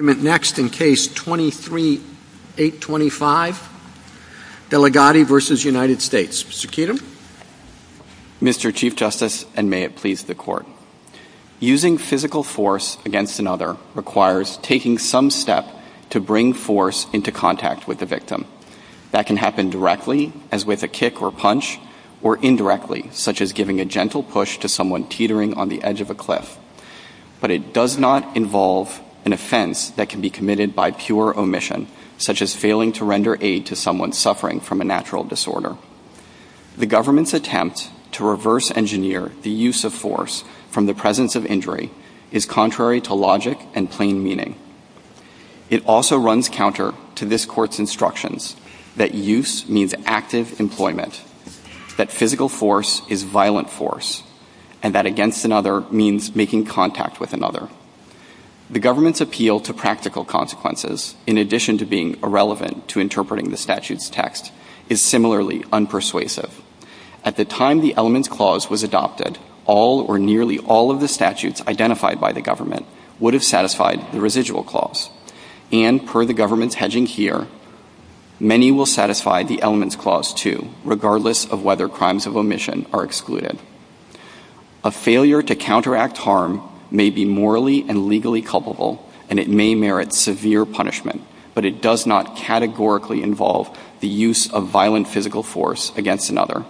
in Case 23-825, Deligatti v. United States. Mr. Keatum. Mr. Chief Justice, and may it please the Court, using physical force against another requires taking some step to bring force into contact with the victim. That can happen directly, as with a kick or punch, or indirectly, such as giving a gentle push to someone teetering on the edge of a cliff. But it does not involve an offense that can be committed by pure omission, such as failing to render aid to someone suffering from a natural disorder. The government's attempt to reverse-engineer the use of force from the presence of injury is contrary to logic and plain meaning. It also runs counter to this Court's instructions that use means an active employment, that physical force is violent force, and that against another means making contact with another. The government's appeal to practical consequences, in addition to being irrelevant to interpreting the statute's text, is similarly unpersuasive. At the time the elements clause was adopted, all or nearly all of the statutes identified by the government would have satisfied the residual clause. And per the government's hedging here, many will satisfy the elements clause too, regardless of whether crimes of omission are excluded. A failure to counteract harm may be morally and legally culpable, and it may merit severe punishment, but it does not categorically involve the use of violent physical force against another.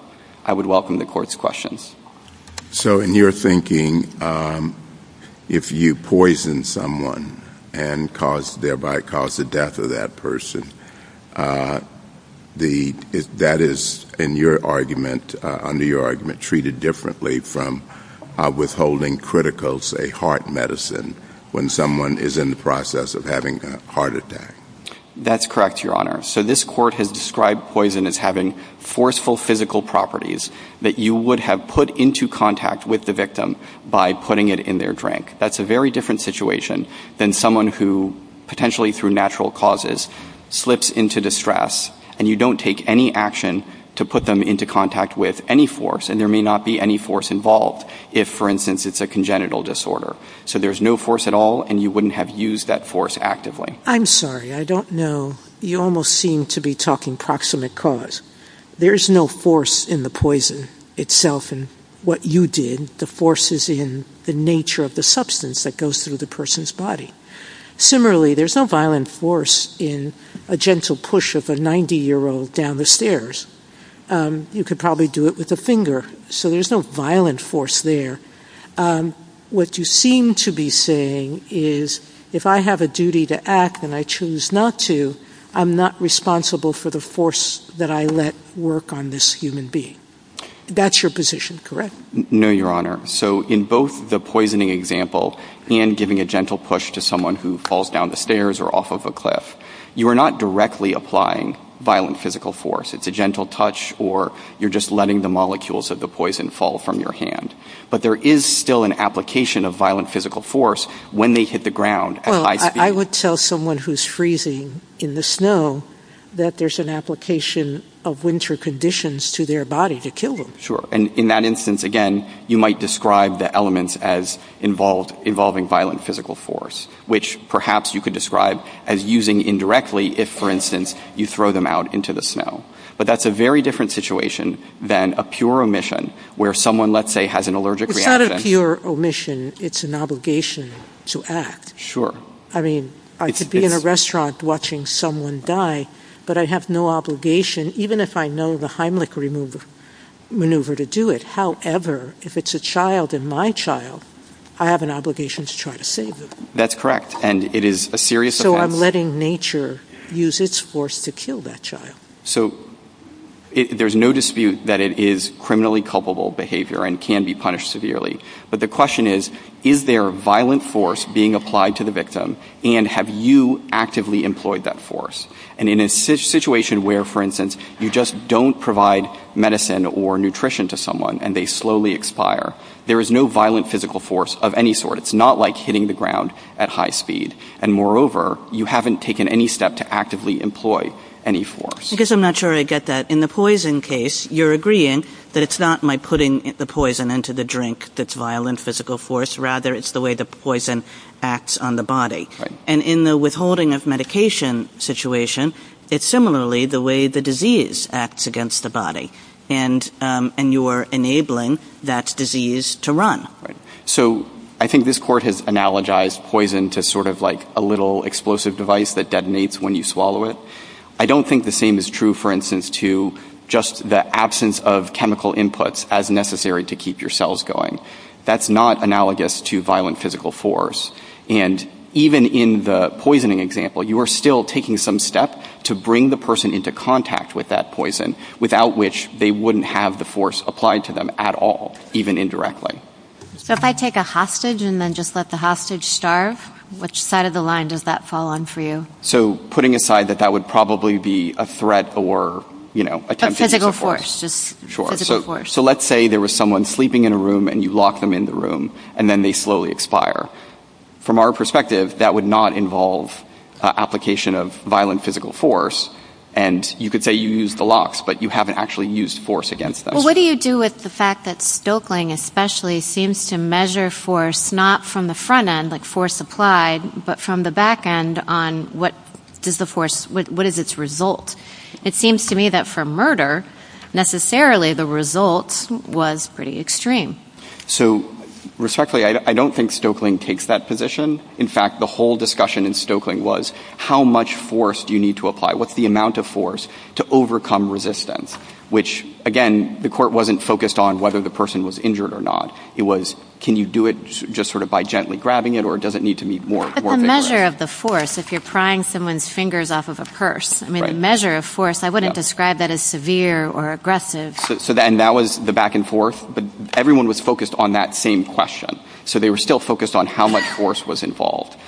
I would welcome the Court's questions. So in your thinking, if you poison someone and thereby cause the death of that person, that is, in your argument, under your argument, treated differently from withholding critical, say, heart medicine when someone is in the process of having a heart attack. That's correct, Your Honor. So this Court has described poison as having forceful physical properties that you would have put into contact with the victim by putting it in their drink. That's a very different situation than someone who, potentially through natural causes, slips into distress, and you don't take any action to put them into contact with any force, and there may not be any force involved if, for instance, it's a congenital disorder. So there's no force at all, and you wouldn't have used that force actively. I'm sorry. I don't know. You almost seem to be talking proximate cause. There's no force in the poison itself, and what you did, the force is in the nature of the substance that goes through the person's body. Similarly, there's no violent force in a gentle push of a 90-year-old down the stairs. You could probably do it with a finger. So there's no violent force there. What you seem to be saying is if I have a duty to act and I choose not to, I'm not responsible for the force that I let work on this human being. That's your position, correct? No, Your Honor. So in both the poisoning example and giving a gentle push to someone who falls down the stairs or off of a cliff, you are not directly applying violent physical force. It's a gentle touch, or you're just letting the molecules of the poison fall from your hand. But there is still an application of violent physical force when they hit the ground at high speed. Well, I would tell someone who's freezing in the snow that there's an application of winter conditions to their body to kill them. Sure. And in that instance, again, you might describe the elements as involving violent physical force, which perhaps you could describe as using indirectly if, for instance, you throw them out into the snow. But that's a very different situation than a pure omission where someone, let's say, has an allergic reaction. It's not a pure omission. It's an obligation to act. I mean, to be in a restaurant watching someone die, but I have no obligation, even if I know the Heimlich maneuver to do it. However, if it's a child and my child, I have an obligation to try to save them. That's correct. And it is a serious offense. But I'm letting nature use its force to kill that child. So there's no dispute that it is criminally culpable behavior and can be punished severely. But the question is, is there violent force being applied to the victim? And have you actively employed that force? And in a situation where, for instance, you just don't provide medicine or nutrition to someone and they slowly expire, there is no violent physical force of any sort. It's not like hitting the ground at high speed. And moreover, you haven't taken any step to actively employ any force. I guess I'm not sure I get that. In the poison case, you're agreeing that it's not my putting the poison into the drink that's violent physical force. Rather, it's the way the poison acts on the body. And in the withholding of medication situation, it's similarly the way the disease acts against the body. And you're enabling that disease to run. So I think this Court has analogized poison to sort of like a little explosive device that detonates when you swallow it. I don't think the same is true, for instance, to just the absence of chemical inputs as necessary to keep your cells going. That's not analogous to violent physical force. And even in the poisoning example, you are still taking some step to bring the person into contact with that poison, without which they wouldn't have the force applied to them at all, even indirectly. So if I take a hostage and then just let the hostage starve, which side of the line does that fall on for you? So putting aside that that would probably be a threat or, you know, attempt to use force. Physical force, just physical force. So let's say there was someone sleeping in a room and you lock them in the room, and then they slowly expire. From our perspective, that would not involve application of violent physical force. And you could say you use the locks, but you haven't actually used force against them. Well, what do you do with the fact that Stoeckling, especially, seems to measure force not from the front end, like force applied, but from the back end on what is its result? It seems to me that for murder, necessarily, the result was pretty extreme. So respectfully, I don't think Stoeckling takes that position. In fact, the whole discussion in Stoeckling was, how much force do you need to apply? What's the amount of force to overcome resistance? Which, again, the court wasn't focused on whether the person was injured or not. It was, can you do it just sort of by gently grabbing it, or does it need to be more vigorous? But the measure of the force, if you're prying someone's fingers off of a purse, I mean, the measure of force, I wouldn't describe that as severe or aggressive. So then that was the back and forth, but everyone was focused on that same question. So they were still focused on how much force was involved.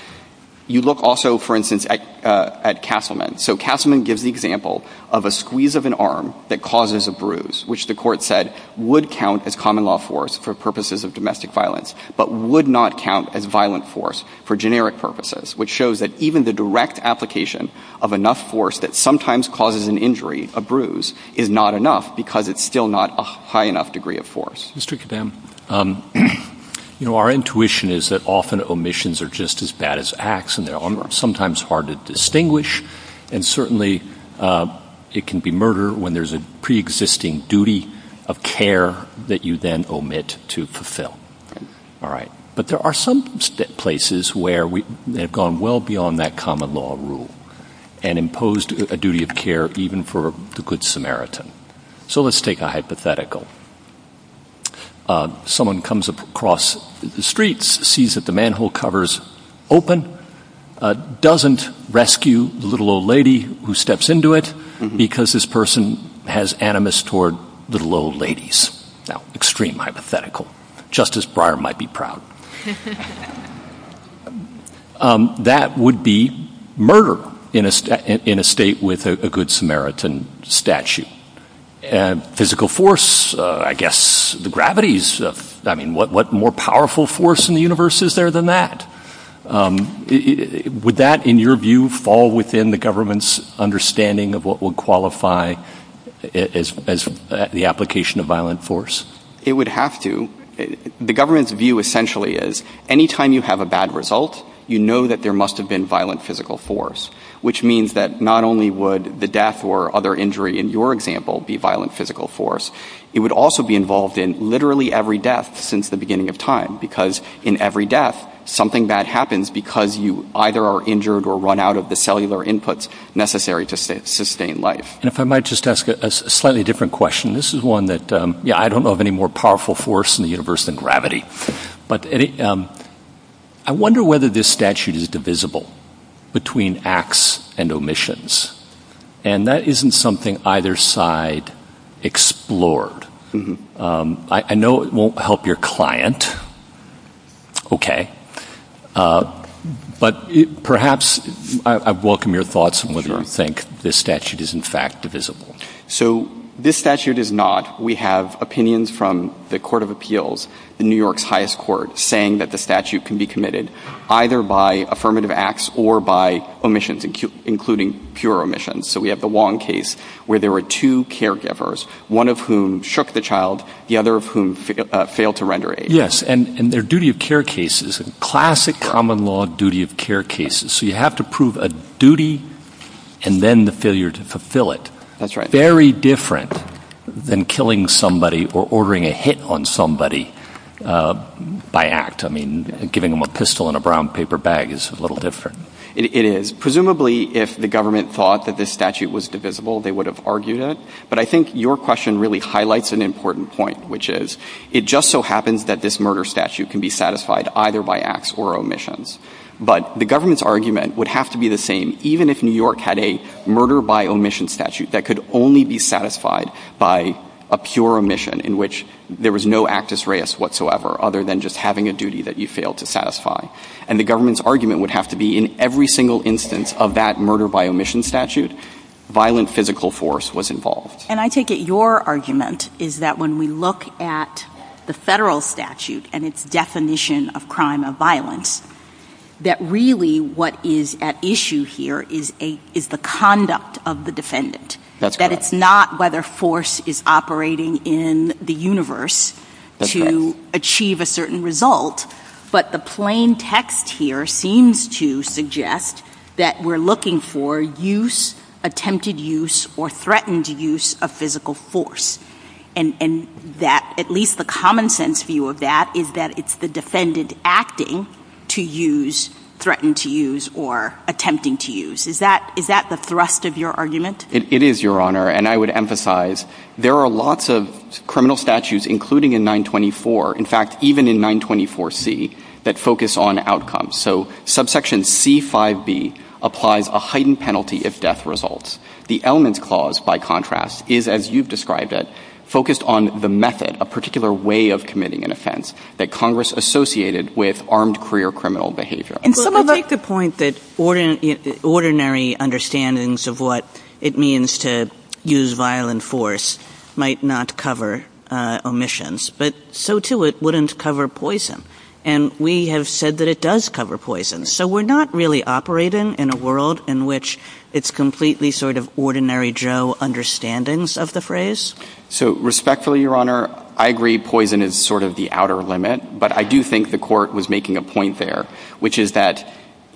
You look also, for instance, at Castleman. So Castleman gives the example of a squeeze of an arm that causes a bruise, which the court said would count as common law force for purposes of domestic violence, but would not count as violent force for generic purposes, which shows that even the direct application of enough force that sometimes causes an injury, a bruise, is not enough because it's still not a high enough degree of force. Mr. Kedem, you know, our intuition is that often omissions are just as bad as acts, and sometimes hard to distinguish, and certainly it can be murder when there's a preexisting duty of care that you then omit to fulfill. All right. But there are some places where we have gone well beyond that common law rule and imposed a duty of care even for the good Samaritan. So let's take a hypothetical. Someone comes across the streets, sees that the manhole cover is open, doesn't rescue the little old lady who steps into it because this person has animus toward little old ladies. Now, extreme hypothetical. Justice Breyer might be proud. That would be murder in a state with a good Samaritan statute. Physical force, I guess the gravity is, I mean, what more powerful force in the universe is there than that? Would that, in your view, fall within the government's understanding of what would qualify as the application of violent force? It would have to. The government's view essentially is any time you have a bad result, you know that there must have been violent physical force, which means that not only would the death or other injury in your example be violent physical force, it would also be involved in literally every death since the beginning of time because in every death something bad happens because you either are injured or run out of the cellular inputs necessary to sustain life. And if I might just ask a slightly different question. This is one that, yeah, I don't know of any more powerful force in the universe than gravity. But I wonder whether this statute is divisible between acts and omissions. And that isn't something either side explored. I know it won't help your client. Okay. But perhaps I welcome your thoughts on whether you think this statute is in fact divisible. So this statute is not. We have opinions from the Court of Appeals, New York's highest court, saying that the statute can be committed either by affirmative acts or by omissions, including pure omissions. So we have the Wong case where there were two caregivers, one of whom shook the child, the other of whom failed to render aid. Yes. And they're duty of care cases, classic common law duty of care cases. So you have to prove a duty and then the failure to fulfill it. That's right. Very different than killing somebody or ordering a hit on somebody by act. I mean, giving them a pistol and a brown paper bag is a little different. It is. Presumably if the government thought that this statute was divisible, they would have argued it. But I think your question really highlights an important point, which is it just so happens that this murder statute can be satisfied either by acts or omissions. But the government's argument would have to be the same even if New York had a murder by omission statute that could only be satisfied by a pure omission in which there was no act us reus whatsoever other than just having a duty that you failed to satisfy. And the government's argument would have to be in every single instance of that murder by omission statute, violent physical force was involved. And I take it your argument is that when we look at the federal statute and its definition of crime of violence, that really what is at issue here is the conduct of the defendant. That's correct. That it's not whether force is operating in the universe to achieve a certain result, but the plain text here seems to suggest that we're looking for use, attempted use, or threatened use of physical force. And that at least the common sense view of that is that it's the defendant acting to use, threatened to use, or attempting to use. Is that the thrust of your argument? It is, Your Honor. And I would emphasize there are lots of criminal statutes, including in 924, in fact, even in 924C, that focus on outcomes. So subsection C-5b applies a heightened penalty if death results. The elements clause, by contrast, is, as you've described it, focused on the method, a particular way of committing an offense that Congress associated with armed career criminal behavior. And some of the I take the point that ordinary understandings of what it means to use violent force might not cover omissions, but so, too, it wouldn't cover poison. And we have said that it does cover poison. So we're not really operating in a world in which it's completely sort of ordinary Joe understandings of the phrase? So respectfully, Your Honor, I agree poison is sort of the outer limit, but I do think the Court was making a point there, which is that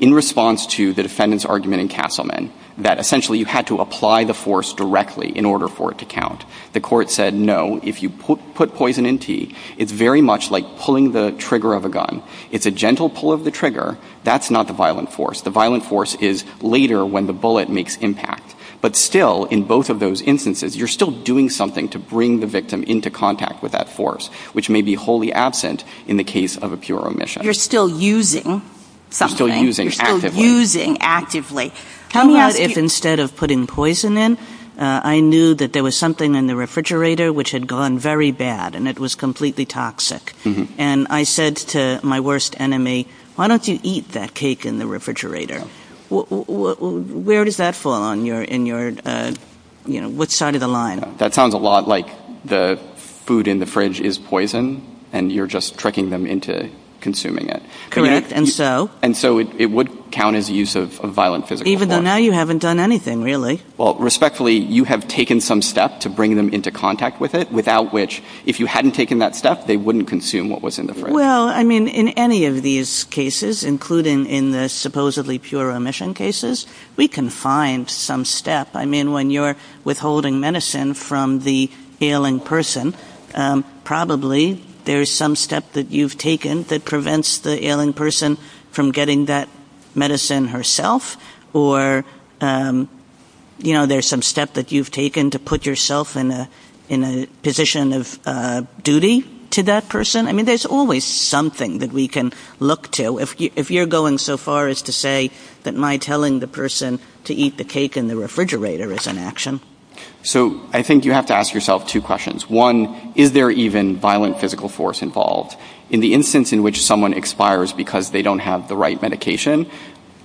in response to the defendant's argument in Castleman, that essentially you had to apply the force directly in order for it to count. The Court said, no, if you put poison in tea, it's very much like pulling the trigger of a gun. It's a gentle pull of the trigger. That's not the violent force. The violent force is later when the bullet makes impact. But still, in both of those instances, you're still doing something to bring the victim into contact with that force, which may be wholly absent in the case of a pure omission. You're still using something. You're still using actively. You're still using actively. I'm glad if instead of putting poison in, I knew that there was something in the refrigerator which had gone very bad and it was completely toxic. And I said to my worst enemy, why don't you eat that cake in the refrigerator? Where does that fall on your, in your, you know, what side of the line? That sounds a lot like the food in the fridge is poison and you're just tricking them into consuming it. Correct. And so? And so it would count as a use of violent physical force. Even though now you haven't done anything, really. Well, respectfully, you have taken some step to bring them into contact with it, without which, if you hadn't taken that step, they wouldn't consume what was in the fridge. Well, I mean, in any of these cases, including in the supposedly pure omission cases, we can find some step. I mean, when you're withholding medicine from the ailing person, probably there's some step that you've taken that prevents the ailing person from getting that medicine herself. Or, you know, there's some step that you've taken to put yourself in a, in a position of duty to that person. I mean, there's always something that we can look to. If you're going so far as to say that my telling the person to eat the cake in the refrigerator is an action. So I think you have to ask yourself two questions. One, is there even violent physical force involved? In the instance in which someone expires because they don't have the right medication,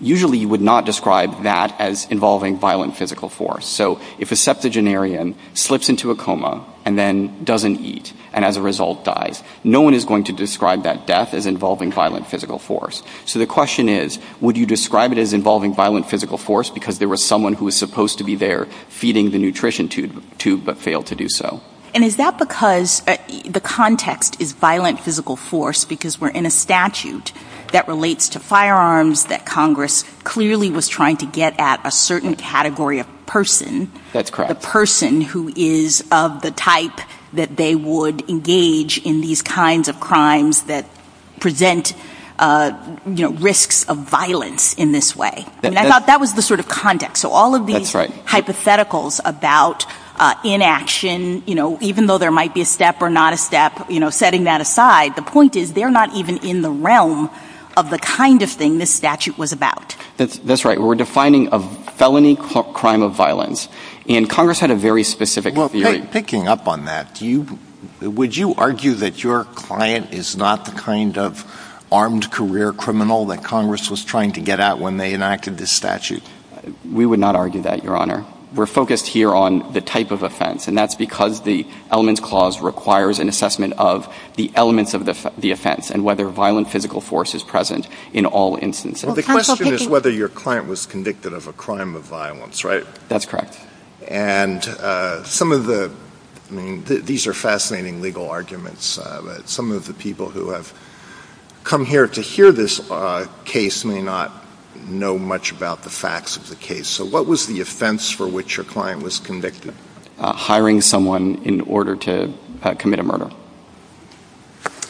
usually you would not describe that as involving violent physical force. So if a septuagenarian slips into a coma and then doesn't eat, and as a result dies, no one is going to describe that death as involving violent physical force. So the question is, would you describe it as involving violent physical force because there was someone who was supposed to be there feeding the nutrition tube, but failed to do so? And is that because the context is violent physical force because we're in a statute that relates to firearms that Congress clearly was trying to get at a certain category of person. That's correct. The person who is of the type that they would engage in these kinds of crimes that present, you know, risks of violence in this way. I mean, I thought that was the sort of context. That's right. So all of these hypotheticals about inaction, you know, even though there might be a step or not a step, you know, setting that aside, the point is they're not even in the realm of the kind of thing this statute was about. That's right. We're defining a felony crime of violence. And Congress had a very specific theory. Well, picking up on that, do you – would you argue that your client is not the kind of armed career criminal that Congress was trying to get at when they enacted this statute? We would not argue that, Your Honor. We're focused here on the type of offense. And that's because the elements clause requires an assessment of the elements of the offense and whether violent physical force is present in all instances. Well, the question is whether your client was convicted of a crime of violence, right? That's correct. And some of the – I mean, these are fascinating legal arguments. Some of the people who have come here to hear this case may not know much about the facts of the case. So what was the offense for which your client was convicted? Hiring someone in order to commit a murder.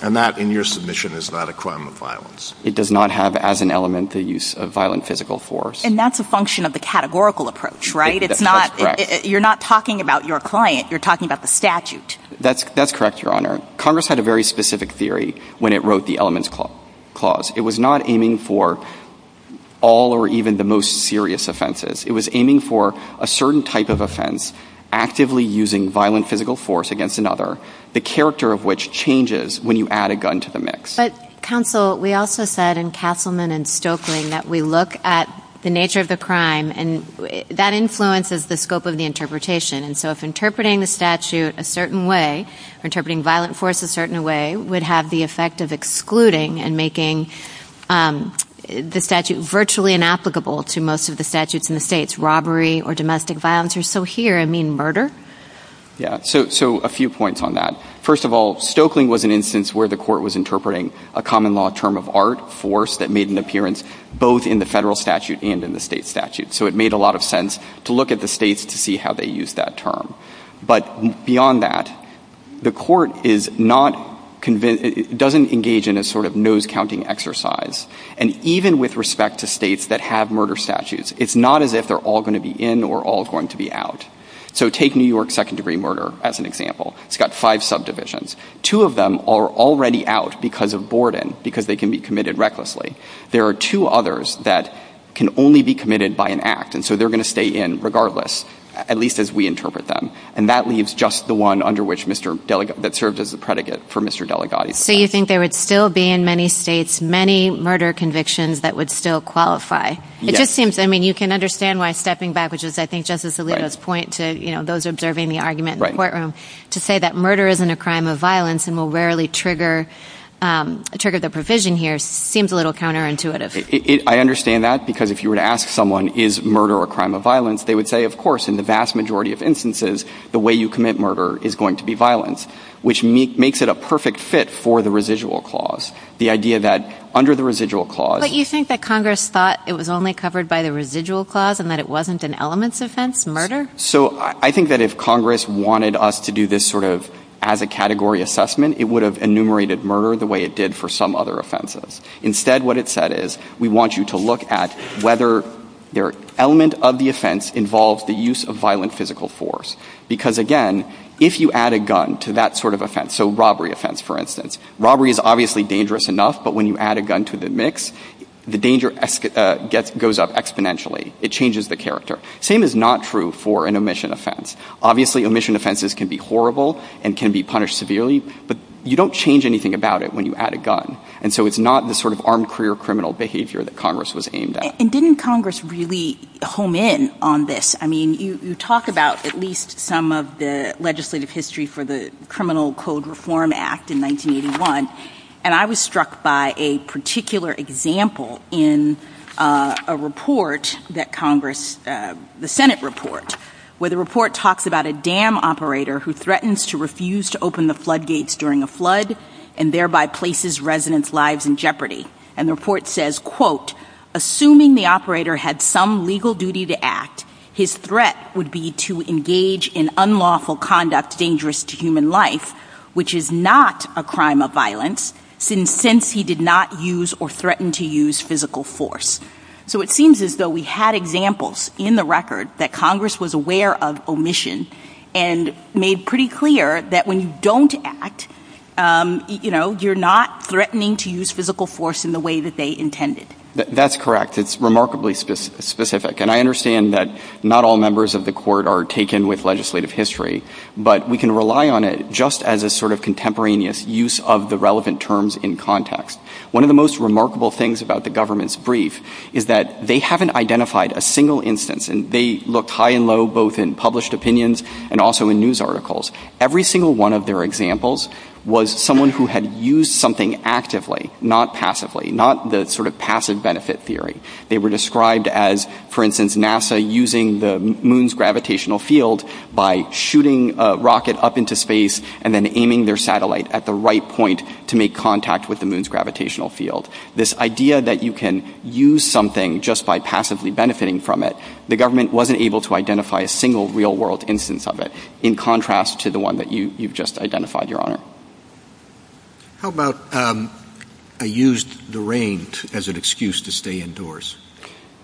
And that, in your submission, is not a crime of violence. It does not have as an element the use of violent physical force. And that's a function of the categorical approach, right? That's correct. It's not – you're not talking about your client. You're talking about the statute. That's correct, Your Honor. Congress had a very specific theory when it wrote the elements clause. It was not aiming for all or even the most serious offenses. It was aiming for a certain type of offense, actively using violent physical force against another, the character of which changes when you add a gun to the mix. But, counsel, we also said in Castleman and Stoeckling that we look at the nature of the crime, and that influences the scope of the interpretation. And so if interpreting the statute a certain way or interpreting violent force a certain way would have the effect of excluding and making the statute virtually inapplicable to most of the statutes in the states, robbery or domestic violence or, so here, I mean, murder? Yeah. So a few points on that. First of all, Stoeckling was an instance where the court was interpreting a common law term of art, force, that made an appearance both in the federal statute and in the state statute. So it made a lot of sense to look at the states to see how they used that term. But beyond that, the court is not convinced, doesn't engage in a sort of nose-counting exercise. And even with respect to states that have murder statutes, it's not as if they're all going to be in or all going to be out. So take New York second-degree murder as an example. It's got five subdivisions. Two of them are already out because of boredom, because they can be committed recklessly. There are two others that can only be committed by an act. And so they're going to stay in regardless, at least as we interpret them. And that leaves just the one under which Mr. Delegate, that served as the predicate for Mr. Delegate. So you think there would still be in many states many murder convictions that would still qualify. It just seems, I mean, you can understand why stepping back, which is, I think, Justice Alito's point to, you know, those observing the argument in the courtroom, to say that murder isn't a crime of violence and will rarely trigger the provision here seems a little counterintuitive. I understand that, because if you were to ask someone, is murder a crime of violence, they would say, of course, in the vast majority of instances, the way you commit murder is going to be violence, which makes it a perfect fit for the residual clause. The idea that under the residual clause But you think that Congress thought it was only covered by the residual clause and that it wasn't an elements offense, murder? So I think that if Congress wanted us to do this sort of as a category assessment, it would have enumerated murder the way it did for some other offenses. Instead, what it said is, we want you to look at whether the element of the offense involves the use of violent physical force. Because, again, if you add a gun to that sort of offense, so robbery offense, for instance, robbery is obviously dangerous enough, but when you add a gun to the mix, the danger goes up exponentially. It changes the character. Same is not true for an omission offense. Obviously, omission offenses can be horrible and can be punished severely, but you don't change anything about it when you add a gun. And so it's not the sort of armed career criminal behavior that Congress was aimed at. And didn't Congress really home in on this? I mean, you talk about at least some of the legislative history for the Criminal Code Reform Act in 1981, and I was struck by a particular example in a report that Congress, the Senate report, where the report talks about a dam operator who threatens to refuse to open the floodgates during a flood and thereby places residents' lives in jeopardy. And the report says, quote, assuming the operator had some legal duty to act, his threat would be to engage in unlawful conduct dangerous to human life, which is not a crime of violence, since he did not use or threatened to use physical force. So it seems as though we had examples in the record that Congress was aware of omission and made pretty clear that when you don't act, you know, you're not threatening to use physical force in the way that they intended. That's correct. It's remarkably specific. And I understand that not all members of the Court are taken with legislative history, but we can rely on it just as a sort of contemporaneous use of the relevant terms in context. One of the most remarkable things about the government's brief is that they haven't identified a single instance, and they looked high and low both in published opinions and also in news articles. Every single one of their examples was someone who had used something actively, not passively, not the sort of passive benefit theory. They were described as, for instance, NASA using the moon's gravitational field by shooting a rocket up into space and then aiming their satellite at the right point to make contact with the moon's gravitational field. This idea that you can use something just by passively benefiting from it, the government wasn't able to identify a single real-world instance of it in contrast to the one that you've just identified, Your Honor. How about I used the rain as an excuse to stay indoors?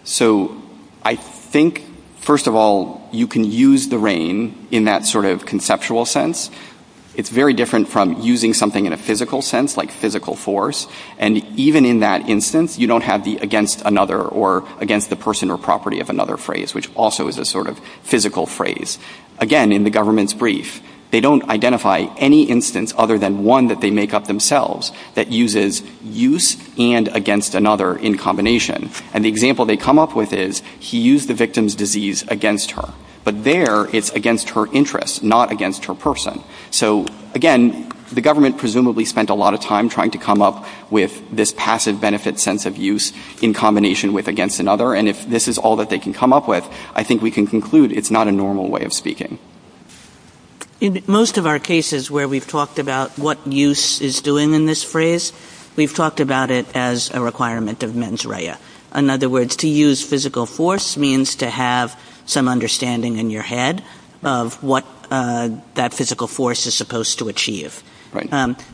So I think, first of all, you can use the rain in that sort of conceptual sense. It's very different from using something in a physical sense, like physical force. And even in that instance, you don't have the against another or against the person or property of another phrase, which also is a sort of physical phrase. Again, in the government's brief, they don't identify any instance other than one that they make up themselves that uses use and against another in combination. And the example they come up with is, he used the victim's disease against her. But there, it's against her interest, not against her person. So, again, the government presumably spent a lot of time trying to come up with this passive benefit sense of use in combination with against another. And if this is all that they can come up with, I think we can conclude it's not a normal way of speaking. In most of our cases where we've talked about what use is doing in this phrase, we've talked about it as a requirement of mens rea. In other words, to use physical force means to have some understanding in your head of what that physical force is supposed to achieve.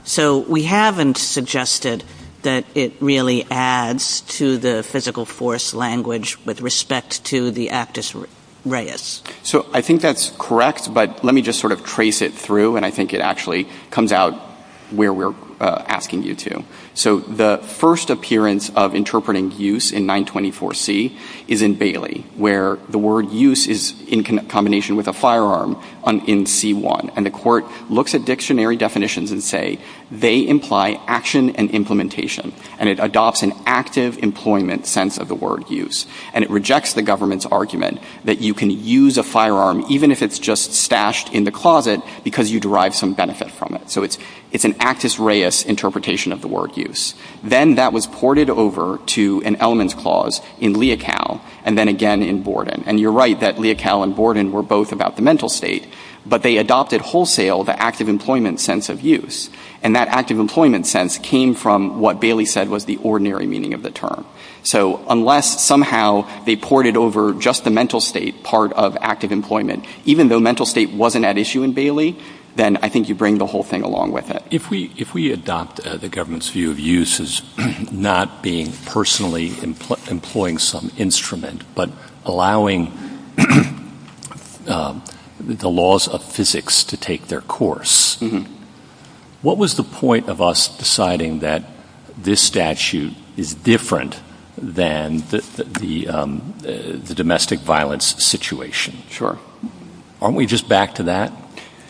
So we haven't suggested that it really adds to the physical force language with respect to the actus reus. So I think that's correct, but let me just sort of trace it through, and I think it actually comes out where we're asking you to. So the first appearance of interpreting use in 924C is in Bailey, where the word use is in combination with a firearm in C-1. And the Court looks at dictionary definitions and say they imply action and implementation, and it adopts an active employment sense of the word use. And it rejects the government's argument that you can use a firearm, even if it's just stashed in the closet, because you derive some benefit from it. So it's an actus reus interpretation of the word use. Then that was ported over to an elements clause in Leocal and then again in Borden. And you're right that Leocal and Borden were both about the mental state, but they adopted wholesale the active employment sense of use. And that active employment sense came from what Bailey said was the ordinary meaning of the term. So unless somehow they ported over just the mental state part of active employment, even though mental state wasn't at issue in Bailey, then I think you bring the whole thing along with it. If we adopt the government's view of use as not being personally employing some instrument, but allowing the laws of physics to take their course, what was the point of us deciding that this statute is different than the domestic violence situation? Sure. Aren't we just back to that?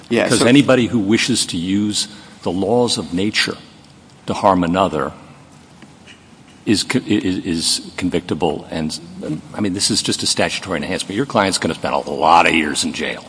Yes. Because anybody who wishes to use the laws of nature to harm another is convictable and I mean this is just a statutory enhancement. Your client is going to spend a lot of years in jail.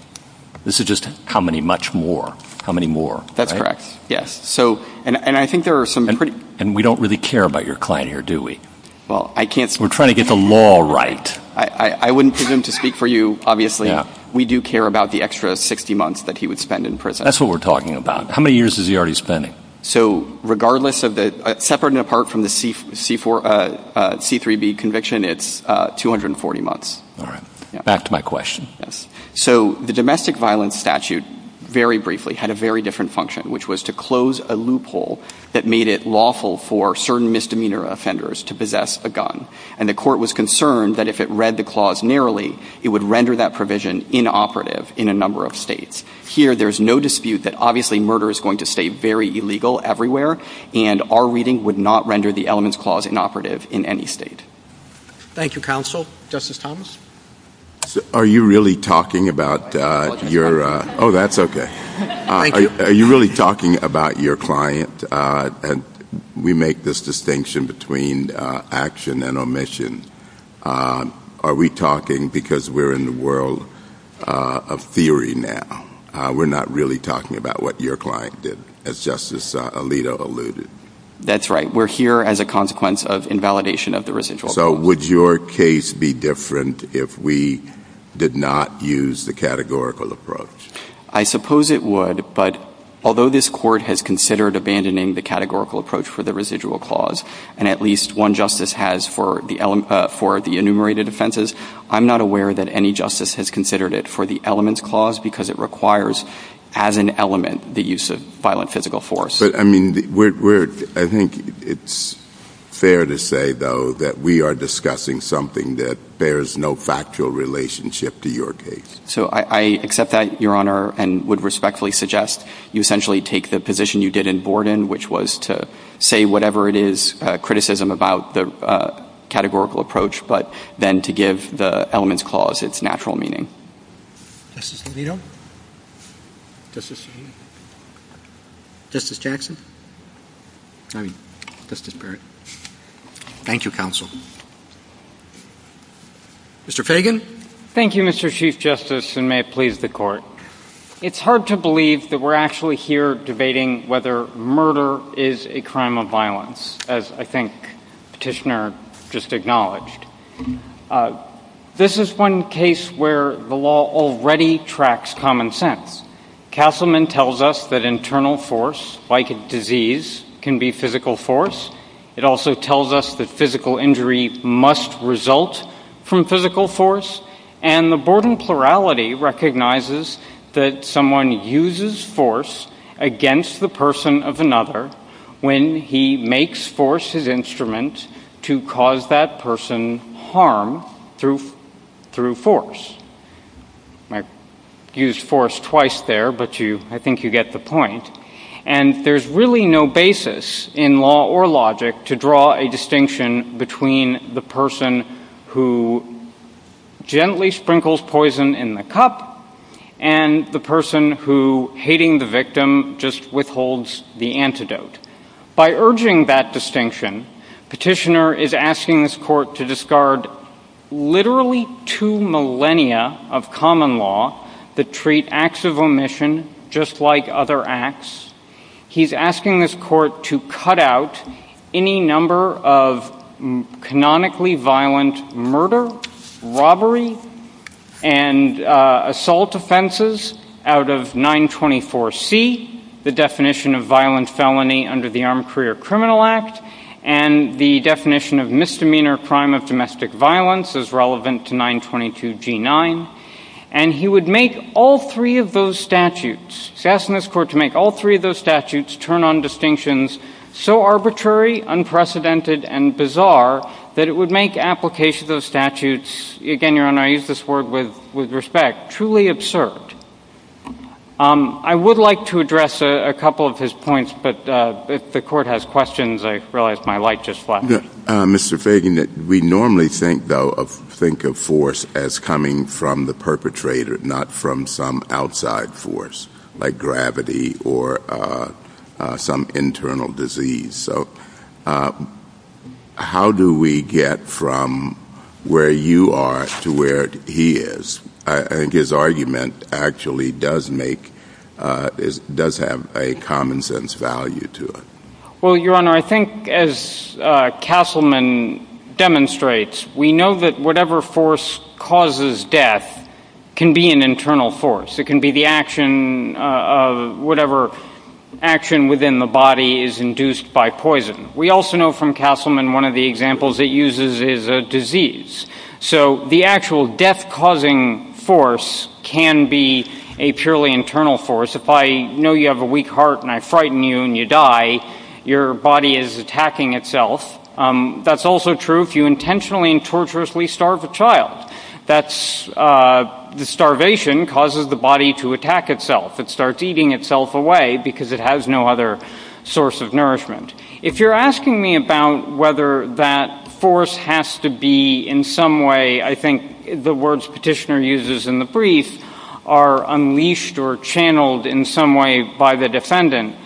This is just how many much more? How many more? That's correct. Yes. So and I think there are some pretty... And we don't really care about your client here, do we? Well, I can't... We're trying to get the law right. I wouldn't presume to speak for you, obviously. We do care about the extra 60 months that he would spend in prison. That's what we're talking about. How many years is he already spending? So regardless of the... Separate and apart from the C-3B conviction, it's 240 months. All right. Back to my question. Yes. So the domestic violence statute, very briefly, had a very different function, which was to close a loophole that made it lawful for certain misdemeanor offenders to possess a gun. And the court was concerned that if it read the clause narrowly, it would render that provision inoperative in a number of states. Here, there's no dispute that obviously murder is going to stay very illegal everywhere, and our reading would not render the elements clause inoperative in any state. Thank you, counsel. Justice Thomas? Are you really talking about your... Oh, that's okay. Thank you. Are you really talking about your client? And we make this distinction between action and omission. Are we talking because we're in the world of theory now? We're not really talking about what your client did, as Justice Alito alluded. That's right. We're here as a consequence of invalidation of the residual clause. So would your case be different if we did not use the categorical approach? I suppose it would, but although this court has considered abandoning the categorical approach for the residual clause, and at least one justice has for the enumerated offenses, I'm not aware that any justice has considered it for the elements clause, because it requires as an element the use of violent physical force. But I mean, I think it's fair to say, though, that we are discussing something that bears no factual relationship to your case. So I accept that, Your Honor, and would respectfully suggest you essentially take the position you did in Borden, which was to say whatever it is, criticism about the categorical approach, but then to give the elements clause its natural meaning. Justice Alito? Justice Jackson? I mean, Justice Barrett? Thank you, counsel. Mr. Fagan? Thank you, Mr. Chief Justice, and may it please the Court. It's hard to believe that we're actually here debating whether murder is a crime of violence, as I think Petitioner just acknowledged. This is one case where the law already tracks common sense. Castleman tells us that internal force, like a disease, can be physical force. It also tells us that physical injury must result from physical force, and the Borden plurality recognizes that someone uses force against the person of another when he makes force his instrument to cause that person harm through force. I used force twice there, but I think you get the point. And there's really no basis in law or logic to draw a distinction between the person who gently holds the victim just withholds the antidote. By urging that distinction, Petitioner is asking this Court to discard literally two millennia of common law that treat acts of omission just like other acts. He's asking this Court to cut out any number of canonically violent murder, robbery, and assault offenses out of 924C. The definition of violent felony under the Armed Career Criminal Act and the definition of misdemeanor crime of domestic violence is relevant to 922G9. And he would make all three of those statutes, he's asking this Court to make all three of those statutes turn on distinctions so arbitrary, unprecedented, and bizarre that it would make application of those statutes, again, Your Honor, I use this word with respect, truly absurd. I would like to address a couple of his points, but if the Court has questions, I realize my light just flashed. Mr. Fagan, we normally think, though, of force as coming from the perpetrator, not from some outside force, like gravity or some internal disease. So how do we get from where you are to where he is? I think his argument actually does make, does have a common sense value to it. Well, Your Honor, I think as Castleman demonstrates, we know that whatever force causes death can be an internal force. It can be the action of whatever action within the body is induced by poison. We also know from Castleman, one of the examples it uses is a disease. So the actual death-causing force can be a purely internal force. If I know you have a weak heart and I frighten you and you die, your body is attacking itself. That's also true if you intentionally and torturously starve a child. That's, the starvation causes the body to attack itself. It starts eating itself away because it has no other source of nourishment. If you're asking me about whether that force has to be in some way, I think the words Petitioner uses in the brief are unleashed or channeled in some way by the defendant,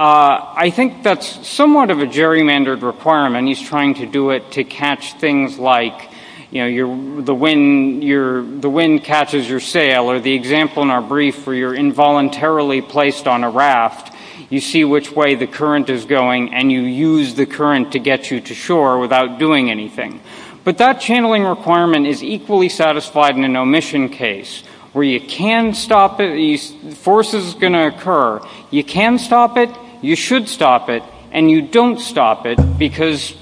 I think that's somewhat of a gerrymandered requirement. He's trying to do it to catch things like, you know, the wind catches your sail, or the example in our brief where you're involuntarily placed on a raft, you see which way the current is going and you use the current to get you to shore without doing anything. But that channeling requirement is equally satisfied in an omission case, where you can stop it, the force is going to occur. You can stop it, you should stop it, and you don't stop it because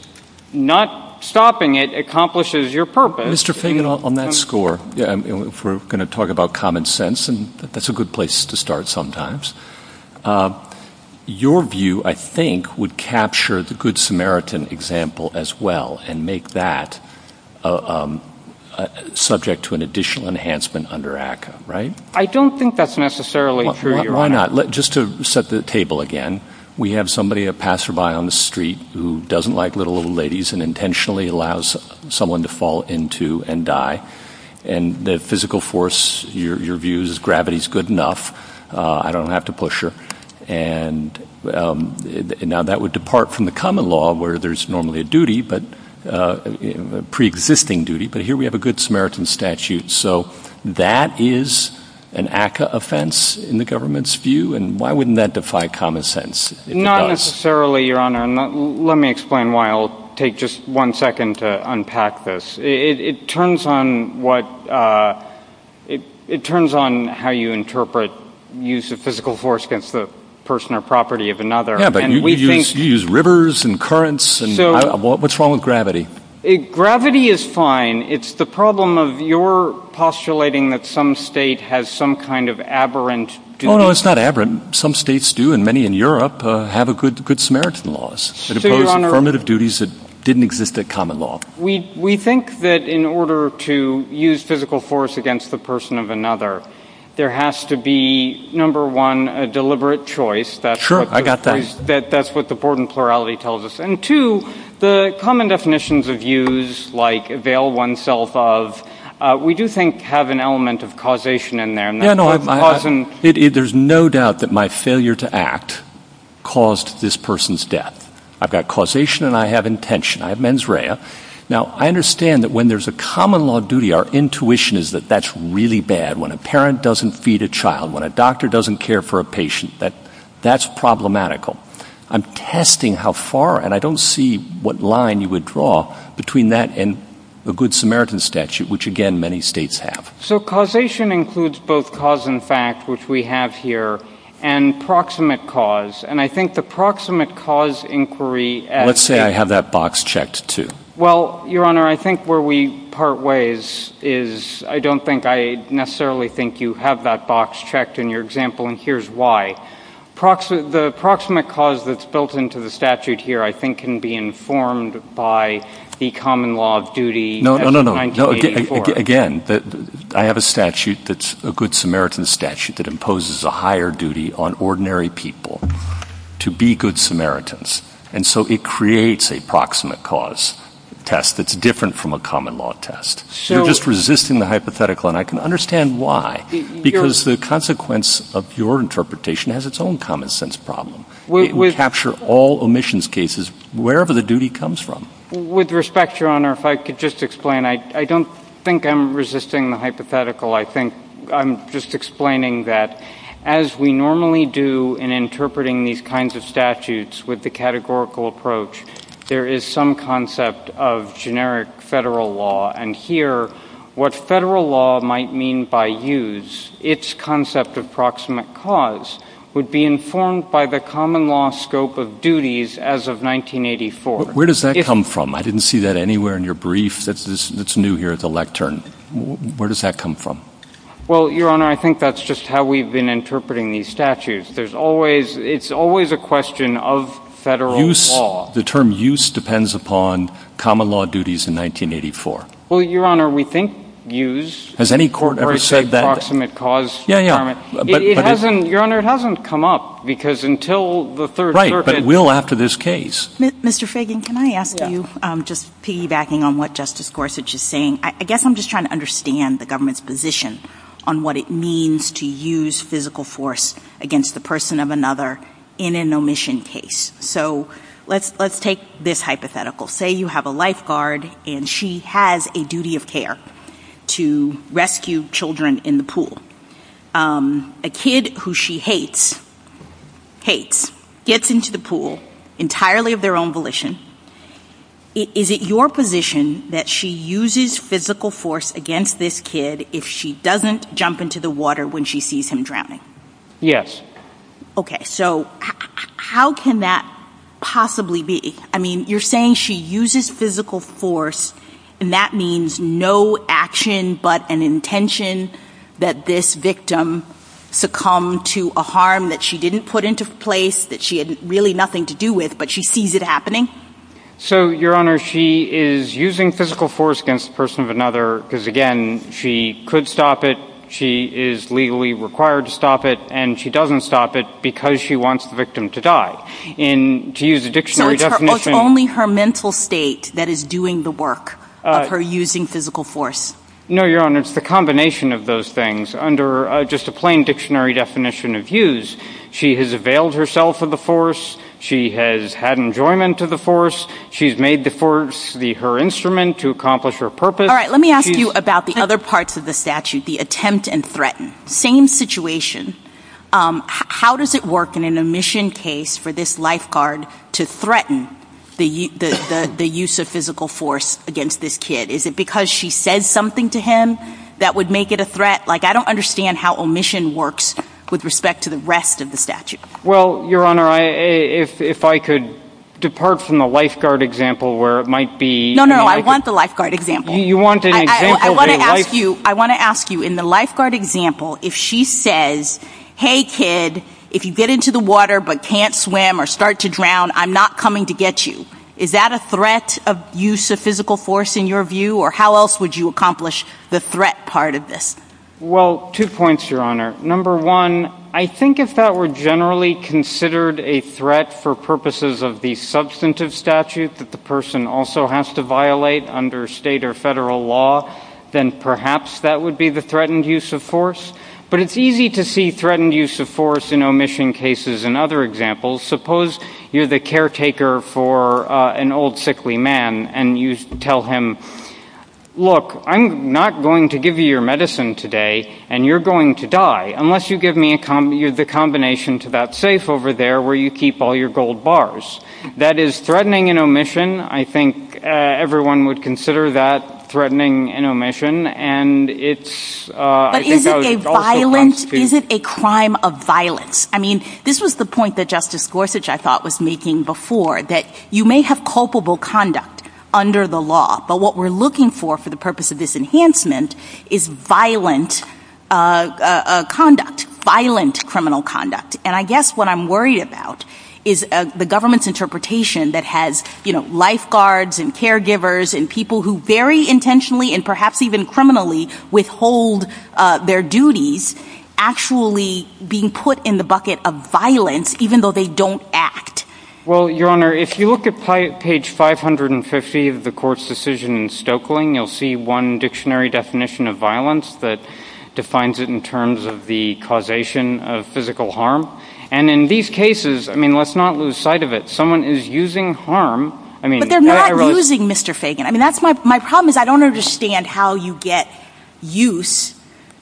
not stopping it accomplishes your purpose. Mr. Fagan, on that score, if we're going to talk about common sense, and that's a good place to start sometimes, your view, I think, would capture the Good Samaritan example as well and make that subject to an additional enhancement under ACCA, right? I don't think that's necessarily true, Your Honor. Why not? Just to set the table again, we have somebody, a passerby on the street who doesn't like little, little ladies and intentionally allows someone to fall into and die, and the physical force, your view is gravity is good enough, I don't have to push her, and now that would depart from the common law where there's normally a duty, a pre-existing duty, but here we have a Good Samaritan statute. So that is an ACCA offense in the government's view, and why wouldn't that defy common sense? Not necessarily, Your Honor. Let me explain why I'll take just one second to unpack this. It turns on what, it turns on how you interpret use of physical force against the person or property of another. Yeah, but you use rivers and currents, and what's wrong with gravity? Gravity is fine. It's the problem of your postulating that some state has some kind of aberrant duty. Oh, no, it's not aberrant. Some states do, and many in Europe, have good Samaritan laws that impose affirmative duties that didn't exist at common law. We think that in order to use physical force against the person of another, there has to be, number one, a deliberate choice. Sure, I got that. That's what the Borden plurality tells us. And two, the common definitions of use, like avail oneself of, we do think have an element of causation in there. Yeah, no, there's no doubt that my failure to act caused this person's death. I've got causation and I have intention. I have mens rea. Now, I understand that when there's a common law duty, our intuition is that that's really bad. When a parent doesn't feed a child, when a doctor doesn't care for a patient, that's problematical. I'm testing how far, and I don't see what line you would draw between that and a good Samaritan statute, which again, many states have. So causation includes both cause and fact, which we have here, and proximate cause. And I think the proximate cause inquiry as... Let's say I have that box checked, too. Well, Your Honor, I think where we part ways is, I don't think I necessarily think you have that box checked in your example, and here's why. The proximate cause that's built into the statute here, I think, can be informed by the common law of duty as of 1984. No, no, no. Again, I have a statute that's a good Samaritan statute that imposes a higher duty on ordinary people to be good Samaritans, and so it creates a proximate cause test that's different from a common law test. You're just resisting the hypothetical, and I can understand why, because the consequence of your interpretation has its own common-sense problem. It can capture all omissions cases, wherever the duty comes from. With respect, Your Honor, if I could just explain. I don't think I'm resisting the hypothetical. I think I'm just explaining that, as we normally do in interpreting these kinds of statutes with the categorical approach, there is some concept of generic federal law, and here, what federal law might mean by use, its concept of proximate cause would be informed by the common law scope of duties as of 1984. Where does that come from? I didn't see that anywhere in your brief. That's new here at the lectern. Where does that come from? Well, Your Honor, I think that's just how we've been interpreting these statutes. There's always – it's always a question of federal law. The term use depends upon common law duties in 1984. Well, Your Honor, we think use – Has any court ever said that? Proximate cause requirement. It hasn't – Your Honor, it hasn't come up, because until the Third Circuit – Right, but will after this case. Mr. Fagan, can I ask you, just piggybacking on what Justice Gorsuch is saying, I guess I'm just trying to understand the government's position on what it means to use physical force against the person of another in an omission case. So let's take this hypothetical. Say you have a lifeguard, and she has a duty of care to rescue children in the pool. A child jumps into the pool entirely of their own volition. Is it your position that she uses physical force against this kid if she doesn't jump into the water when she sees him drowning? Yes. Okay. So how can that possibly be? I mean, you're saying she uses physical force, and that means no action but an intention that this victim succumb to a harm that she didn't put into place, that she had really nothing to do with, but she sees it happening? So Your Honor, she is using physical force against the person of another because, again, she could stop it, she is legally required to stop it, and she doesn't stop it because she wants the victim to die. And to use a dictionary definition – So it's only her mental state that is doing the work of her using physical force? No, Your Honor, it's the combination of those things. Under just a plain dictionary definition of use, she has availed herself of the force, she has had enjoyment of the force, she's made the force her instrument to accomplish her purpose. All right, let me ask you about the other parts of the statute, the attempt and threaten. Same situation. How does it work in an omission case for this lifeguard to threaten the use of physical force against this kid? Is it because she says something to him that would make it a threat? Like, I don't understand how omission works with respect to the rest of the statute. Well, Your Honor, if I could depart from the lifeguard example where it might be – No, no, I want the lifeguard example. You want an example – I want to ask you, in the lifeguard example, if she says, hey kid, if you get into the water but can't swim or start to drown, I'm not coming to get you. Is that a threat of use of physical force in your view, or how else would you accomplish the threat part with this? Well, two points, Your Honor. Number one, I think if that were generally considered a threat for purposes of the substantive statute that the person also has to violate under state or federal law, then perhaps that would be the threatened use of force. But it's easy to see threatened use of force in omission cases and other examples. Suppose you're the caretaker for an old, sickly man, and you tell him, look, I'm not going to give you your medicine today, and you're going to die, unless you give me the combination to that safe over there where you keep all your gold bars. That is threatening in omission. I think everyone would consider that threatening in omission, and it's – But is it a crime of violence? I mean, this was the point that Justice Gorsuch, I thought, was making before, that you may have culpable conduct under the law, but what we're looking for for the purpose of this enhancement is violent conduct, violent criminal conduct. And I guess what I'm worried about is the government's interpretation that has lifeguards and caregivers and people who very intentionally and perhaps even criminally withhold their duties actually being put in the bucket of violence, even though they don't act. Well, Your Honor, if you look at page 550 of the Court's decision in Stoeckling, you'll see one dictionary definition of violence that defines it in terms of the causation of physical harm. And in these cases, I mean, let's not lose sight of it. Someone is using harm. But they're not using, Mr. Fagan. I mean, my problem is I don't understand how you get use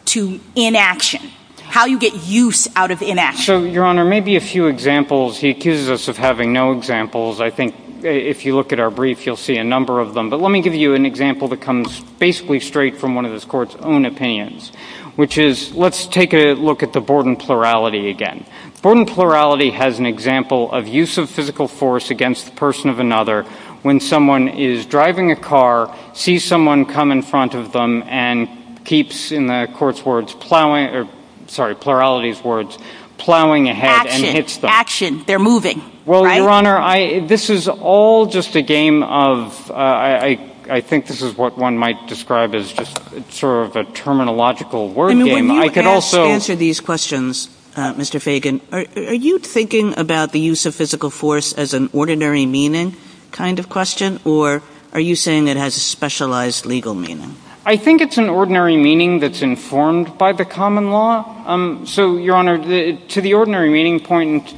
to inaction, how you get use out of inaction. So, Your Honor, maybe a few examples. He accuses us of having no examples. I think if you look at our brief, you'll see a number of them. But let me give you an example that comes basically straight from one of this Court's own opinions, which is let's take a look at the Borden plurality again. Borden plurality has an example of use of physical force against the person of another when someone is driving a car, sees someone come in front of them, and keeps, in the Court's words, plowing, sorry, plurality's words, plowing ahead and hits them. Action. Action. They're moving. Well, Your Honor, this is all just a game of, I think this is what one might describe as just sort of a terminological word game. I mean, when you answer these questions, Mr. Fagan, are you thinking about the use of physical force as an ordinary meaning kind of question? Or are you saying it has a specialized legal meaning? I think it's an ordinary meaning that's informed by the common law. So, Your Honor, to the ordinary meaning point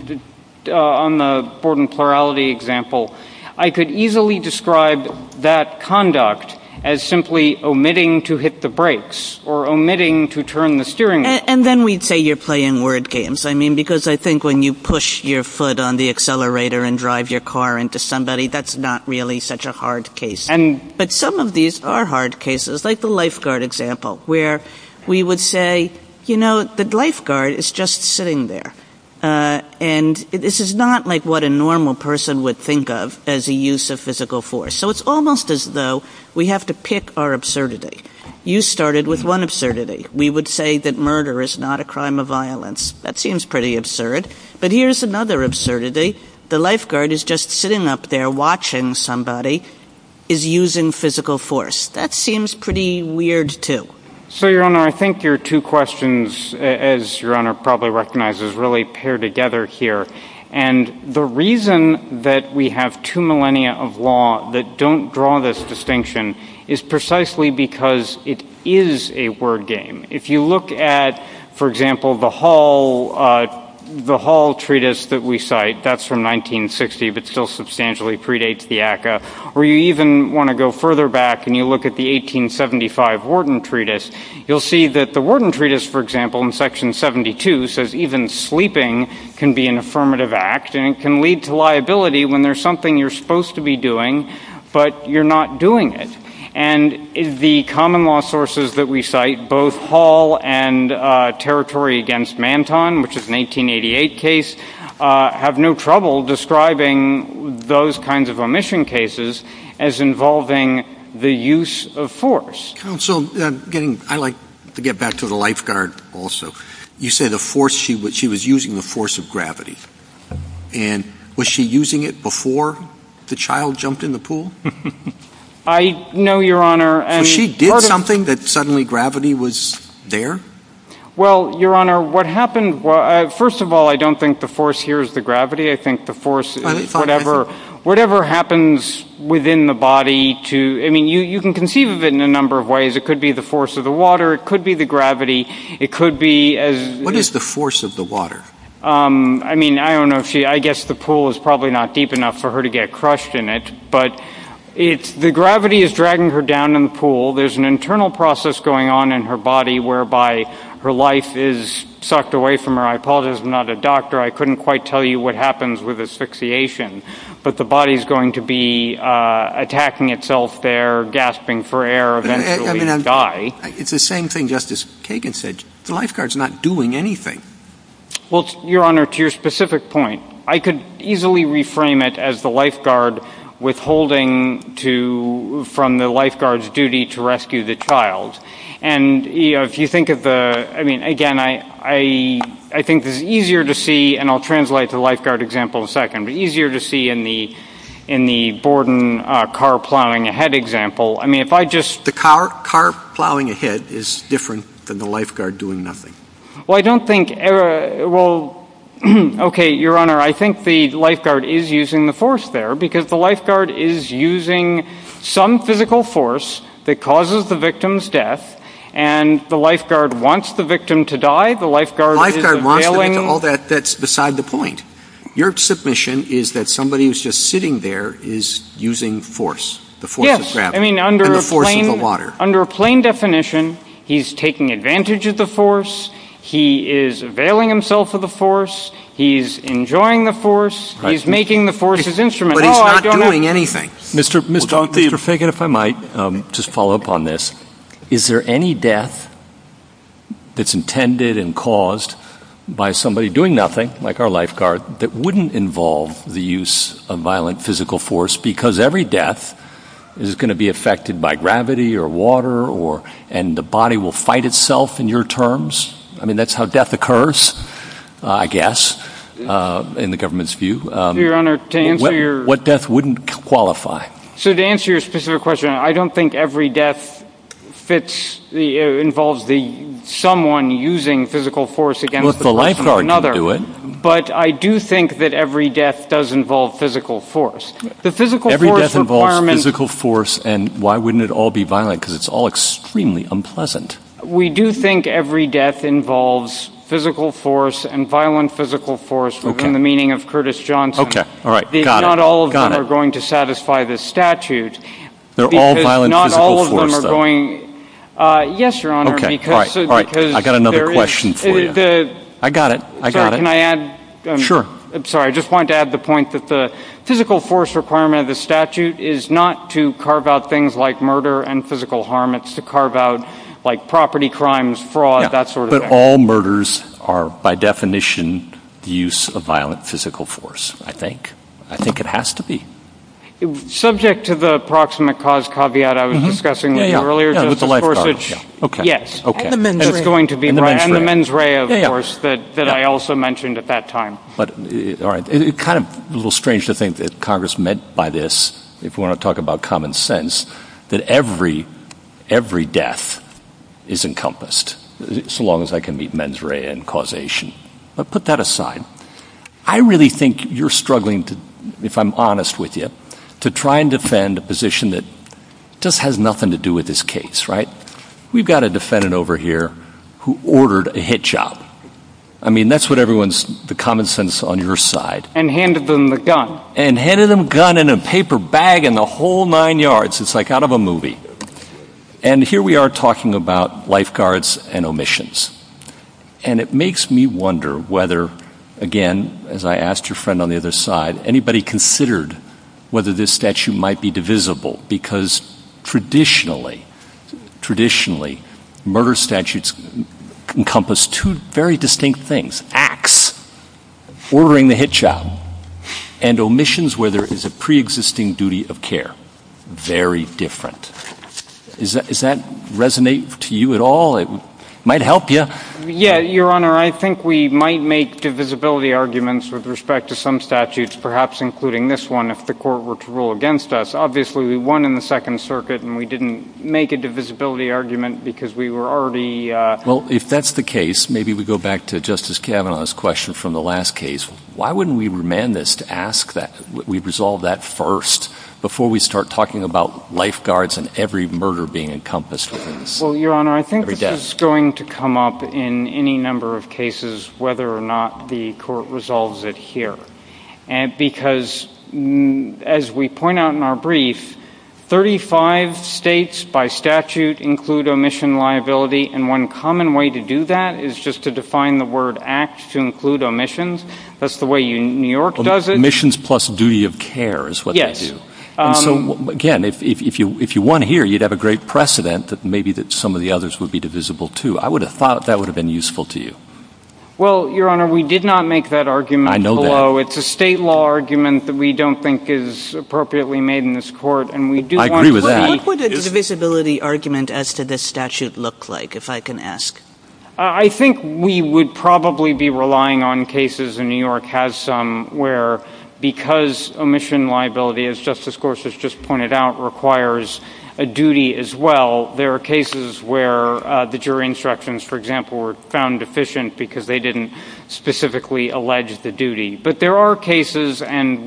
on the Borden plurality example, I could easily describe that conduct as simply omitting to hit the brakes or omitting to turn the steering wheel. And then we'd say you're playing word games. I mean, because I think when you push your foot on the accelerator and drive your car into somebody, that's not really such a hard case. But some of these are hard cases, like the lifeguard example, where we would say, you know, the lifeguard is just sitting there. And this is not like what a normal person would think of as a use of physical force. So it's almost as though we have to pick our absurdity. You started with one absurdity. We would say that murder is not a crime of violence. That seems pretty absurd. But here's another absurdity. The lifeguard is just sitting up there watching somebody is using physical force. That seems pretty weird, too. So, Your Honor, I think your two questions, as Your Honor probably recognizes, really pair together here. And the reason that we have two millennia of law that don't draw this distinction is precisely because it is a word game. If you look at, for example, the Hall Treatise that we cite, that's from 1960, but still substantially predates the ACCA. Or you even want to go further back, and you look at the 1875 Warden Treatise, you'll see that the Warden Treatise, for example, in Section 72 says even sleeping can be an affirmative act, and it can lead to liability when there's something you're supposed to be doing, but you're not doing it. And the common law sources that we cite, both Hall and Territory Against Manton, which is an 1888 case, have no trouble describing those kinds of omission cases as involving the use of force. Counsel, I'd like to get back to the lifeguard also. You say the force she was using, the force of gravity. And was she using it before the child jumped in the pool? I know, Your Honor. So she did something that suddenly gravity was there? Well, Your Honor, what happened... First of all, I don't think the force here is the gravity. I think the force is whatever happens within the body to... I mean, you can conceive of it in a number of ways. It could be the force of the water. It could be the gravity. It could be as... What is the force of the water? I mean, I don't know if she... I guess the pool is probably not deep enough for her to get crushed in it, but the gravity is dragging her down in the pool. There's an internal process going on in her body whereby her life is sucked away from her. I apologize, I'm not a doctor. I couldn't quite tell you what happens with asphyxiation, but the body's going to be attacking itself there, gasping for air, eventually die. It's the same thing Justice Kagan said. The lifeguard's not doing anything. Well, Your Honor, to your specific point, I could easily reframe it as the lifeguard withholding from the lifeguard's duty to rescue the child. And if you think of the... I mean, again, I think this is easier to see, and I'll translate the lifeguard example in a second, but easier to see in the Borden car plowing ahead example. I mean, if I just... The car plowing ahead is different than the lifeguard doing nothing. Well, I don't think... Well, okay, Your Honor, I think the lifeguard is using the force there, because the lifeguard is using some physical force that causes the victim's death, and the lifeguard wants the victim to die. The lifeguard is availing... The lifeguard wants to get to all that that's beside the point. Your submission is that somebody who's just sitting there is using force, the force of gravity and the force of the water. Yes. I mean, under a plain definition, he's taking advantage of the force. He is availing himself of the force. He's enjoying the force. He's making the force his instrument. But he's not doing anything. Mr. Fagan, if I might just follow up on this. Is there any death that's intended and caused by somebody doing nothing, like our lifeguard, that wouldn't involve the use of violent physical force, because every death is going to be affected by gravity or water, and the body will fight itself in your terms? I mean, that's how death occurs, I guess, in the government's view. Your Honor, to answer your... What death wouldn't qualify? So to answer your specific question, I don't think every death involves someone using physical force against the person or another. Well, if the lifeguard can do it. But I do think that every death does involve physical force. The physical force requirement... Every death involves physical force, and why wouldn't it all be violent? Because it's all extremely unpleasant. We do think every death involves physical force and violent physical force within the meaning of Curtis Johnson. Not all of them are going to satisfy this statute. They're all violent physical force, though. Because not all of them are going... Yes, Your Honor. All right. I got another question for you. I got it. I got it. Sorry, can I add? Sure. I'm sorry. I just wanted to add the point that the physical force requirement of the statute is not to carve out things like murder and physical harm. It's to carve out, like, property crimes, fraud, that sort of thing. All murders are, by definition, the use of violent physical force, I think. I think it has to be. Subject to the proximate cause caveat I was discussing with you earlier, Justice Gorsuch, yes. And the mens rea. That's going to be right. And the mens rea, of course, that I also mentioned at that time. All right. It's kind of a little strange to think that Congress meant by this, if we want to talk about common sense, that every death is encompassed, so long as I can meet mens rea and causation. But put that aside. I really think you're struggling, if I'm honest with you, to try and defend a position that just has nothing to do with this case, right? We've got a defendant over here who ordered a hit job. I mean, that's what everyone's, the common sense on your side. And handed them the gun. And handed them gun and a paper bag and the whole nine yards. It's like out of a movie. And here we are talking about lifeguards and omissions. And it makes me wonder whether, again, as I asked your friend on the other side, anybody considered whether this statute might be divisible? Because traditionally, traditionally, murder statutes encompass two very distinct things. Acts. Ordering the hit job. And omissions where there is a pre-existing duty of care. Very different. Does that resonate to you at all? It might help you. Yeah. Your Honor, I think we might make divisibility arguments with respect to some statutes, perhaps including this one, if the court were to rule against us. Obviously, we won in the Second Circuit and we didn't make a divisibility argument because we were already... If that's the case, maybe we go back to Justice Kavanaugh's question from the last case. Why wouldn't we remand this to ask that we resolve that first, before we start talking about lifeguards and every murder being encompassed within this? Well, Your Honor, I think this is going to come up in any number of cases, whether or not the court resolves it here. Because as we point out in our brief, 35 states by statute include omission liability. And one common way to do that is just to define the word act to include omissions. That's the way New York does it. Omissions plus duty of care is what they do. And so, again, if you won here, you'd have a great precedent that maybe that some of the others would be divisible too. I would have thought that would have been useful to you. Well, Your Honor, we did not make that argument below. I know that. It's a state law argument that we don't think is appropriately made in this court. And we do... I agree with that. What would a divisibility argument as to this statute look like, if I can ask? I think we would probably be relying on cases, and New York has some, where because omission liability, as Justice Gorsuch just pointed out, requires a duty as well, there are cases where the jury instructions, for example, were found deficient because they didn't specifically allege the duty. But there are cases, and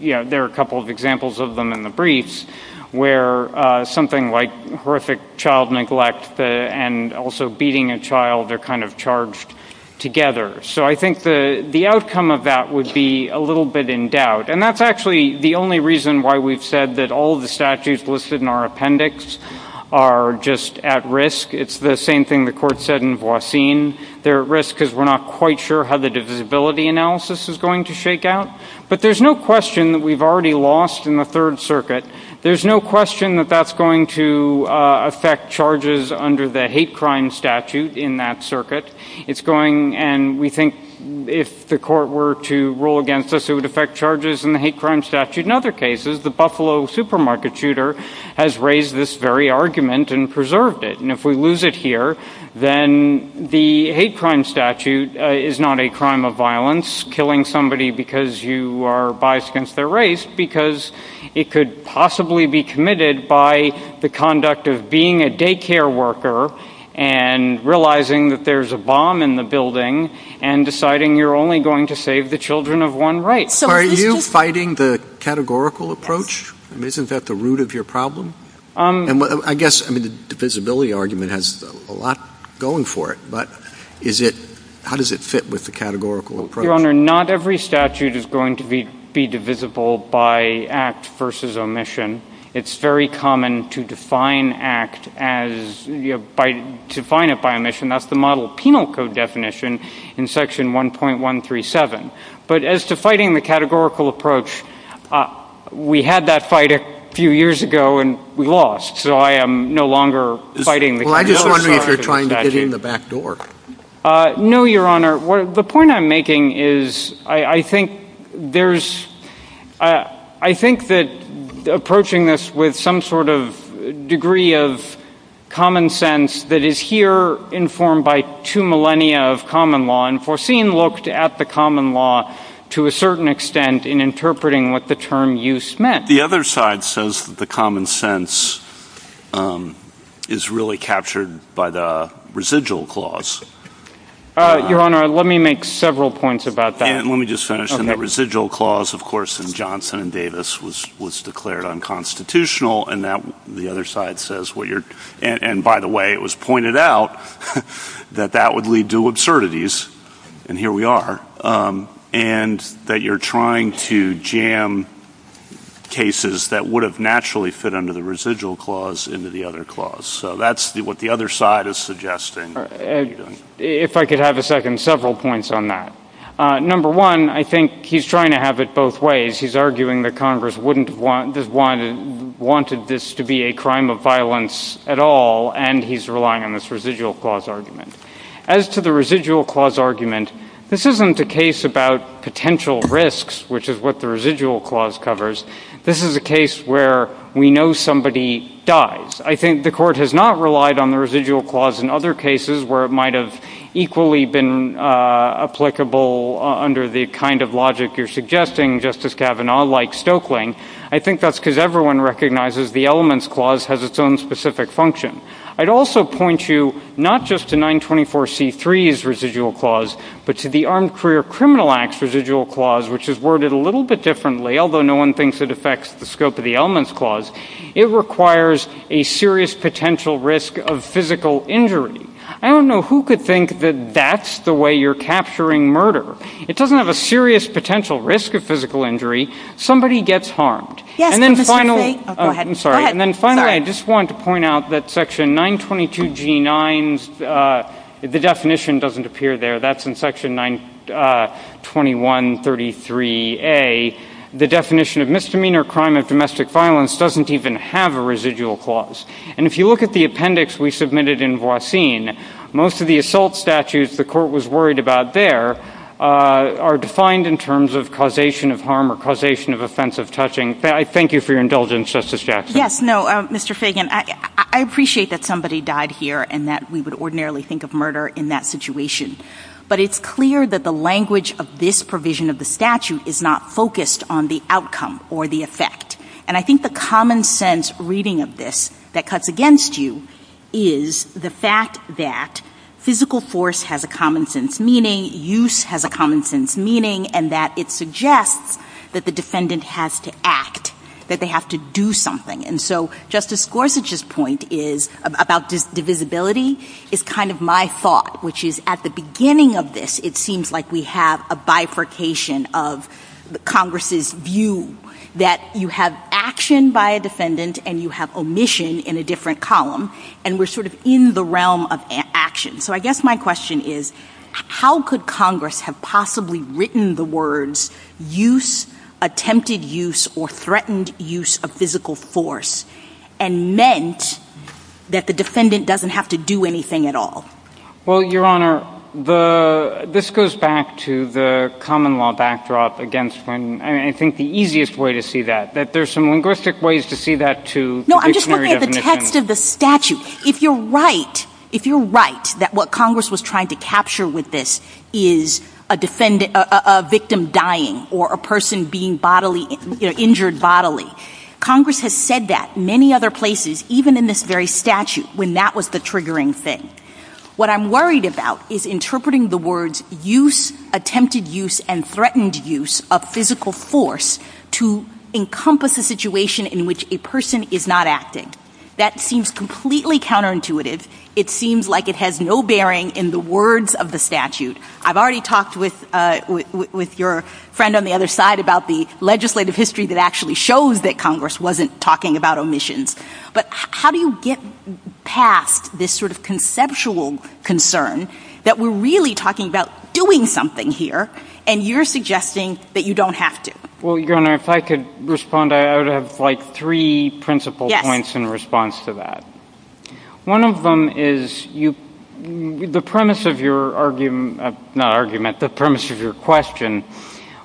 there are a couple of examples of them in the briefs, where something like horrific child neglect and also beating a child are kind of charged together. So I think the outcome of that would be a little bit in doubt. And that's actually the only reason why we've said that all the statutes listed in our appendix are just at risk. It's the same thing the court said in Voisin. They're at risk because we're not quite sure how the divisibility analysis is going to shake out. But there's no question that we've already lost in the Third Circuit. There's no question that that's going to affect charges under the hate crime statute in that circuit. It's going, and we think if the court were to rule against us, it would affect charges in the hate crime statute. In other cases, the Buffalo supermarket shooter has raised this very argument and preserved it. And if we lose it here, then the hate crime statute is not a crime of violence, killing somebody because you are biased against their race, because it could possibly be committed by the conduct of being a daycare worker and realizing that there's a bomb in the building and deciding you're only going to save the children of one right. So are you fighting the categorical approach? I mean, isn't that the root of your problem? And I guess, I mean, the divisibility argument has a lot going for it. But is it, how does it fit with the categorical approach? Your Honor, not every statute is going to be divisible by act versus omission. It's very common to define act as, define it by omission. That's the model penal code definition in section 1.137. But as to fighting the categorical approach, we had that fight a few years ago and we lost. So I am no longer fighting the categorical statute. Well, I just wonder if you're trying to get in the back door. No, Your Honor. The point I'm making is I think there's, I think that approaching this with some sort of degree of common sense that is here informed by two millennia of common law and foreseen looked at the common law to a certain extent in interpreting what the term use meant. The other side says that the common sense is really captured by the residual clause. Your Honor, let me make several points about that. And let me just finish. And the residual clause, of course, in Johnson and Davis was declared unconstitutional. And now the other side says what you're, and by the way, it was pointed out that that would lead to absurdities. And here we are. And that you're trying to jam cases that would have naturally fit under the residual clause into the other clause. So that's what the other side is suggesting. If I could have a second, several points on that. Number one, I think he's trying to have it both ways. He's arguing that Congress wouldn't have wanted this to be a crime of violence at all. And he's relying on this residual clause argument. As to the residual clause argument, this isn't a case about potential risks, which is what the residual clause covers. This is a case where we know somebody dies. I think the Court has not relied on the residual clause in other cases where it might have equally been applicable under the kind of logic you're suggesting, Justice Kavanaugh, like Stokeling. I think that's because everyone recognizes the has its own specific function. I'd also point you not just to 924C3's residual clause, but to the Armed Career Criminal Act's residual clause, which is worded a little bit differently, although no one thinks it affects the scope of the elements clause. It requires a serious potential risk of physical injury. I don't know who could think that that's the way you're capturing murder. It doesn't have a serious potential risk of physical injury. Somebody gets harmed. And then finally, I just want to point out that Section 922G9's definition doesn't appear there. That's in Section 92133A. The definition of misdemeanor crime of domestic violence doesn't even have a residual clause. And if you look at the appendix we submitted in Voisin, most of the assault statutes the Court was worried about there are defined in terms of harm or causation of offensive touching. Thank you for your indulgence, Justice Jackson. Yes. No, Mr. Fagan, I appreciate that somebody died here and that we would ordinarily think of murder in that situation. But it's clear that the language of this provision of the statute is not focused on the outcome or the effect. And I think the common sense reading of this that cuts against you is the fact that physical force has a common sense meaning, use has a common sense meaning, and that it suggests that the defendant has to act, that they have to do something. And so Justice Gorsuch's point about divisibility is kind of my thought, which is at the beginning of this, it seems like we have a bifurcation of Congress's view that you have action by a defendant and you have omission in a different column. And we're sort of in the realm of action. So I guess my question is, how could Congress have possibly written the words use, attempted use, or threatened use of physical force and meant that the defendant doesn't have to do anything at all? Well, Your Honor, this goes back to the common law backdrop against when I think the easiest way to see that, that there's some linguistic ways to see that to dictionary definition. No, I'm just looking at the text of the statute. If you're right, that what Congress was trying to capture with this is a victim dying or a person being bodily, injured bodily. Congress has said that many other places, even in this very statute, when that was the triggering thing. What I'm worried about is interpreting the words use, attempted use, and threatened use of physical force to encompass a situation in which a person is not acting. That seems completely counterintuitive. It seems like it has no bearing in the words of the statute. I've already talked with your friend on the other side about the legislative history that actually shows that Congress wasn't talking about omissions. But how do you get past this sort of conceptual concern that we're really talking about doing something here and you're suggesting that you don't have to? Well, Your Honor, if I could respond, I would have like three principal points in response to that. One of them is the premise of your argument, not argument, the premise of your question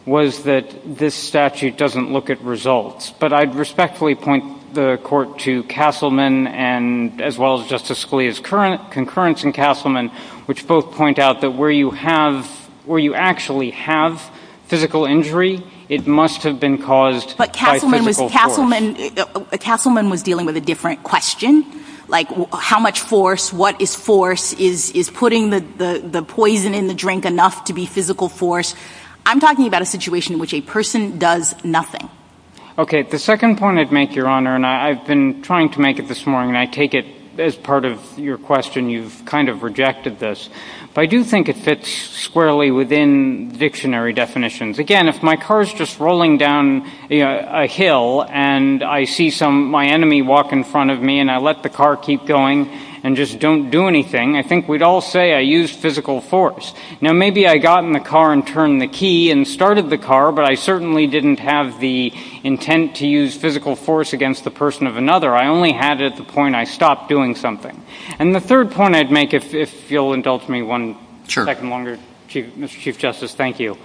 was that this statute doesn't look at results. But I'd respectfully point the court to Castleman and as well as Justice Scalia's concurrence in Castleman, which both point out that where you actually have physical injury, it must have been caused by physical force. But Castleman was dealing with a different question, like how much force, what is force, is putting the poison in the drink enough to be physical force? I'm talking about a situation in which a person does nothing. Okay. The second point I'd make, Your Honor, and I've been trying to make it this morning, and I take it as part of your question, you've kind of rejected this. But I do think it fits squarely within dictionary definitions. Again, if my car is just rolling down a hill and I see some, my enemy walk in front of me and I let the car keep going and just don't do anything, I think we'd all say I used physical force. Now, maybe I got in the car and turned the key and started the car, but I certainly didn't have the intent to use physical force against the person of another. I only had it at the point I stopped doing something. And the third point I'd make, if you'll indulge me one second longer, Mr. Chief Justice, thank you,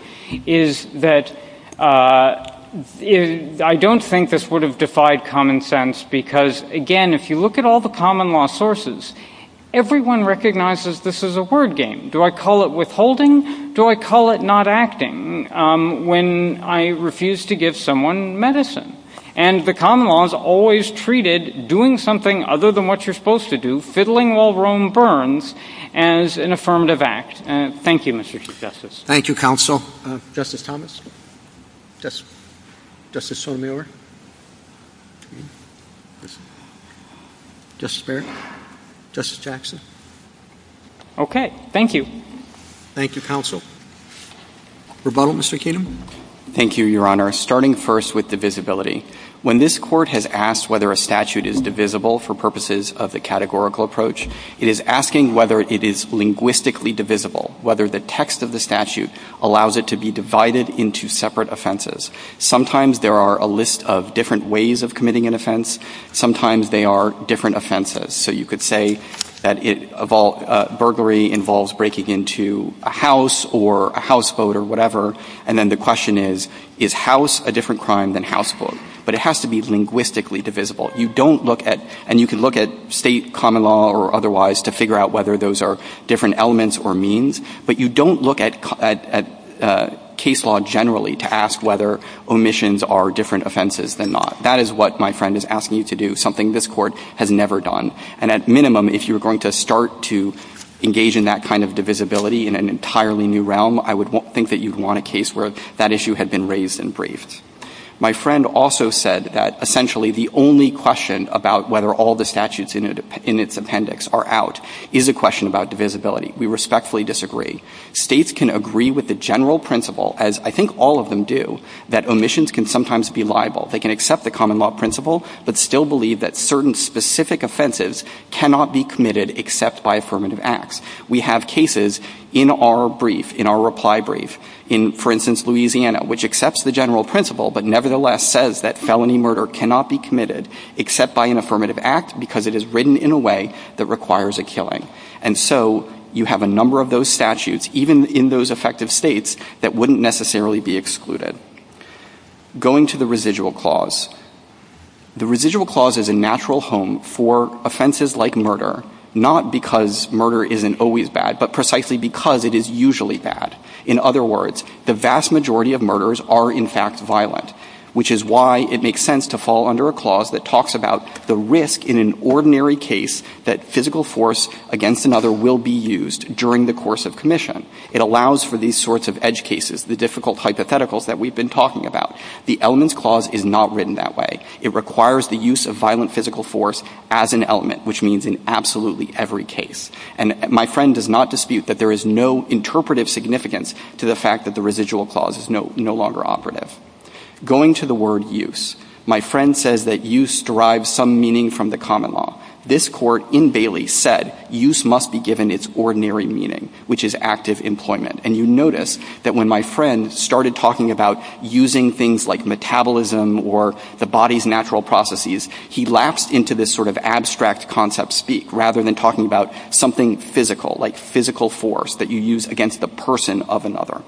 is that I don't think this would have defied common sense because, again, if you look at all the common law sources, everyone recognizes this is a word game. Do I call it withholding? Do I call it not acting when I refuse to give someone medicine? And the common law is always treated doing something other than what you're supposed to do, fiddling while Rome burns, as an affirmative act. Thank you, Mr. Chief Justice. Thank you, counsel. Justice Thomas? Justice Sotomayor? Justice Barrett? Justice Jackson? Okay. Thank you. Thank you, counsel. Rebuttal, Mr. Keenum? Thank you, Your Honor. Starting first with divisibility. When this Court has asked whether a statute is divisible for purposes of the categorical approach, it is asking whether it is linguistically divisible, whether the text of the statute allows it to be divided into separate offenses. Sometimes there are a list of different ways of committing an offense. Sometimes they are different offenses. So you could say that burglary involves breaking into a house or a houseboat or whatever, and then the question is, is house a different crime than houseboat? But it has to be linguistically divisible. You don't look at — and you can look at State common law or otherwise to figure out whether those are different elements or means, but you don't look at case law generally to ask whether omissions are different offenses than not. That is what my friend is asking you to do, something this Court has never done. And at minimum, if you're going to start to engage in that kind of divisibility in an entirely new realm, I would think that you'd want a case where that issue had been raised and briefed. My friend also said that essentially the only question about whether all the statutes in its appendix are out is a question about divisibility. We respectfully disagree. States can agree with the general principle, as I think all of them do, that omissions can sometimes be liable. They can accept the common law principle but still believe that certain specific offenses cannot be committed except by affirmative acts. We have cases in our brief, in our reply brief, in, for instance, Louisiana, which accepts the general principle but nevertheless says that felony murder cannot be committed except by an affirmative act because it is written in a way that requires a killing. And so you have a number of those statutes, even in those effective States, that wouldn't necessarily be excluded. Going to the residual clause, the residual clause is a natural home for offenses like murder, not because murder isn't always bad, but precisely because it is usually bad. In other words, the vast majority of murders are, in fact, violent, which is why it makes sense to fall under a clause that talks about the risk in an ordinary case that physical force against another will be used during the course of commission. It allows for these sorts of edge that we've been talking about. The elements clause is not written that way. It requires the use of violent physical force as an element, which means in absolutely every case. And my friend does not dispute that there is no interpretive significance to the fact that the residual clause is no longer operative. Going to the word use, my friend says that use derives some meaning from the common law. This court in Bailey said use must be given its ordinary meaning, which is active employment. And you notice that when my friend started talking about using things like metabolism or the body's natural processes, he lapsed into this sort of abstract concept speak, rather than talking about something physical, like physical force that you use against the person of another.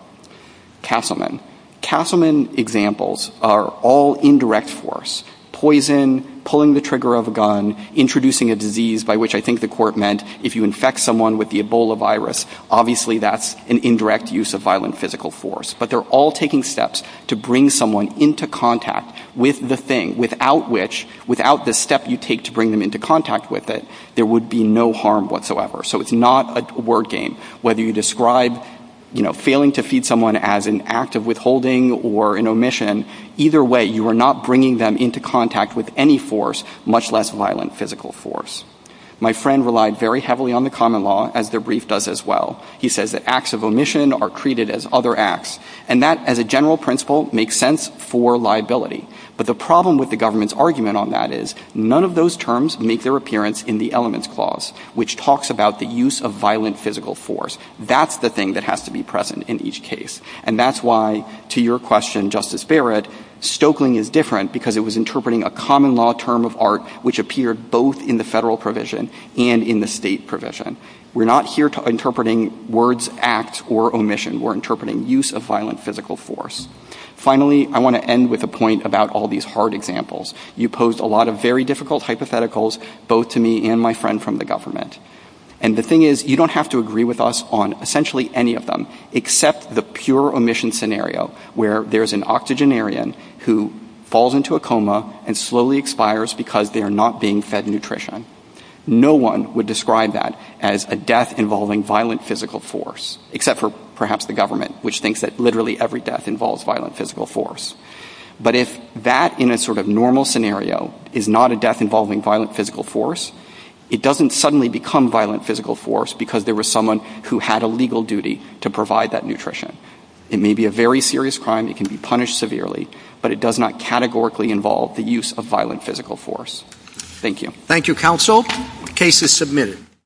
Castleman. Castleman examples are all indirect force. Poison, pulling the trigger of a gun, introducing a disease by which I think the court meant if you infect someone with the Ebola virus, obviously that's an indirect use of violent physical force. But they're all taking steps to bring someone into contact with the thing, without which, without the step you take to bring them into contact with it, there would be no harm whatsoever. So it's not a word game. Whether you describe, you know, failing to feed someone as an act of withholding or an omission, either way, you are not bringing them into contact with any force, much less violent physical force. My friend relied very heavily on the common law, as the brief does as well. He says that acts of omission are treated as other acts. And that, as a general principle, makes sense for liability. But the problem with the government's argument on that is none of those terms make their appearance in the elements clause, which talks about the use of violent physical force. That's the thing that has to be present in each case. And that's why, to your question, Justice Barrett, Stoeckling is different, because it was interpreting a common law term of art, which appeared both in the federal provision and in the state provision. We're not here interpreting words act or omission. We're interpreting use of violent physical force. Finally, I want to end with a point about all these hard examples. You posed a lot of very difficult hypotheticals, both to me and my friend from the government. And the thing is, you don't have to agree with us on essentially any of them, except the pure omission scenario, where there's an octogenarian who falls into a coma and slowly expires because they are not being fed nutrition. No one would describe that as a death involving violent physical force, except for perhaps the government, which thinks that literally every death involves violent physical force. But if that, in a sort of normal scenario, is not a death involving violent physical force, it doesn't suddenly become violent physical force because there was someone who had a legal duty to provide that nutrition. It may be a very serious crime. It can be punished severely, but it does not categorically involve the use of violent physical force. Thank you. Thank you, counsel. The case is submitted.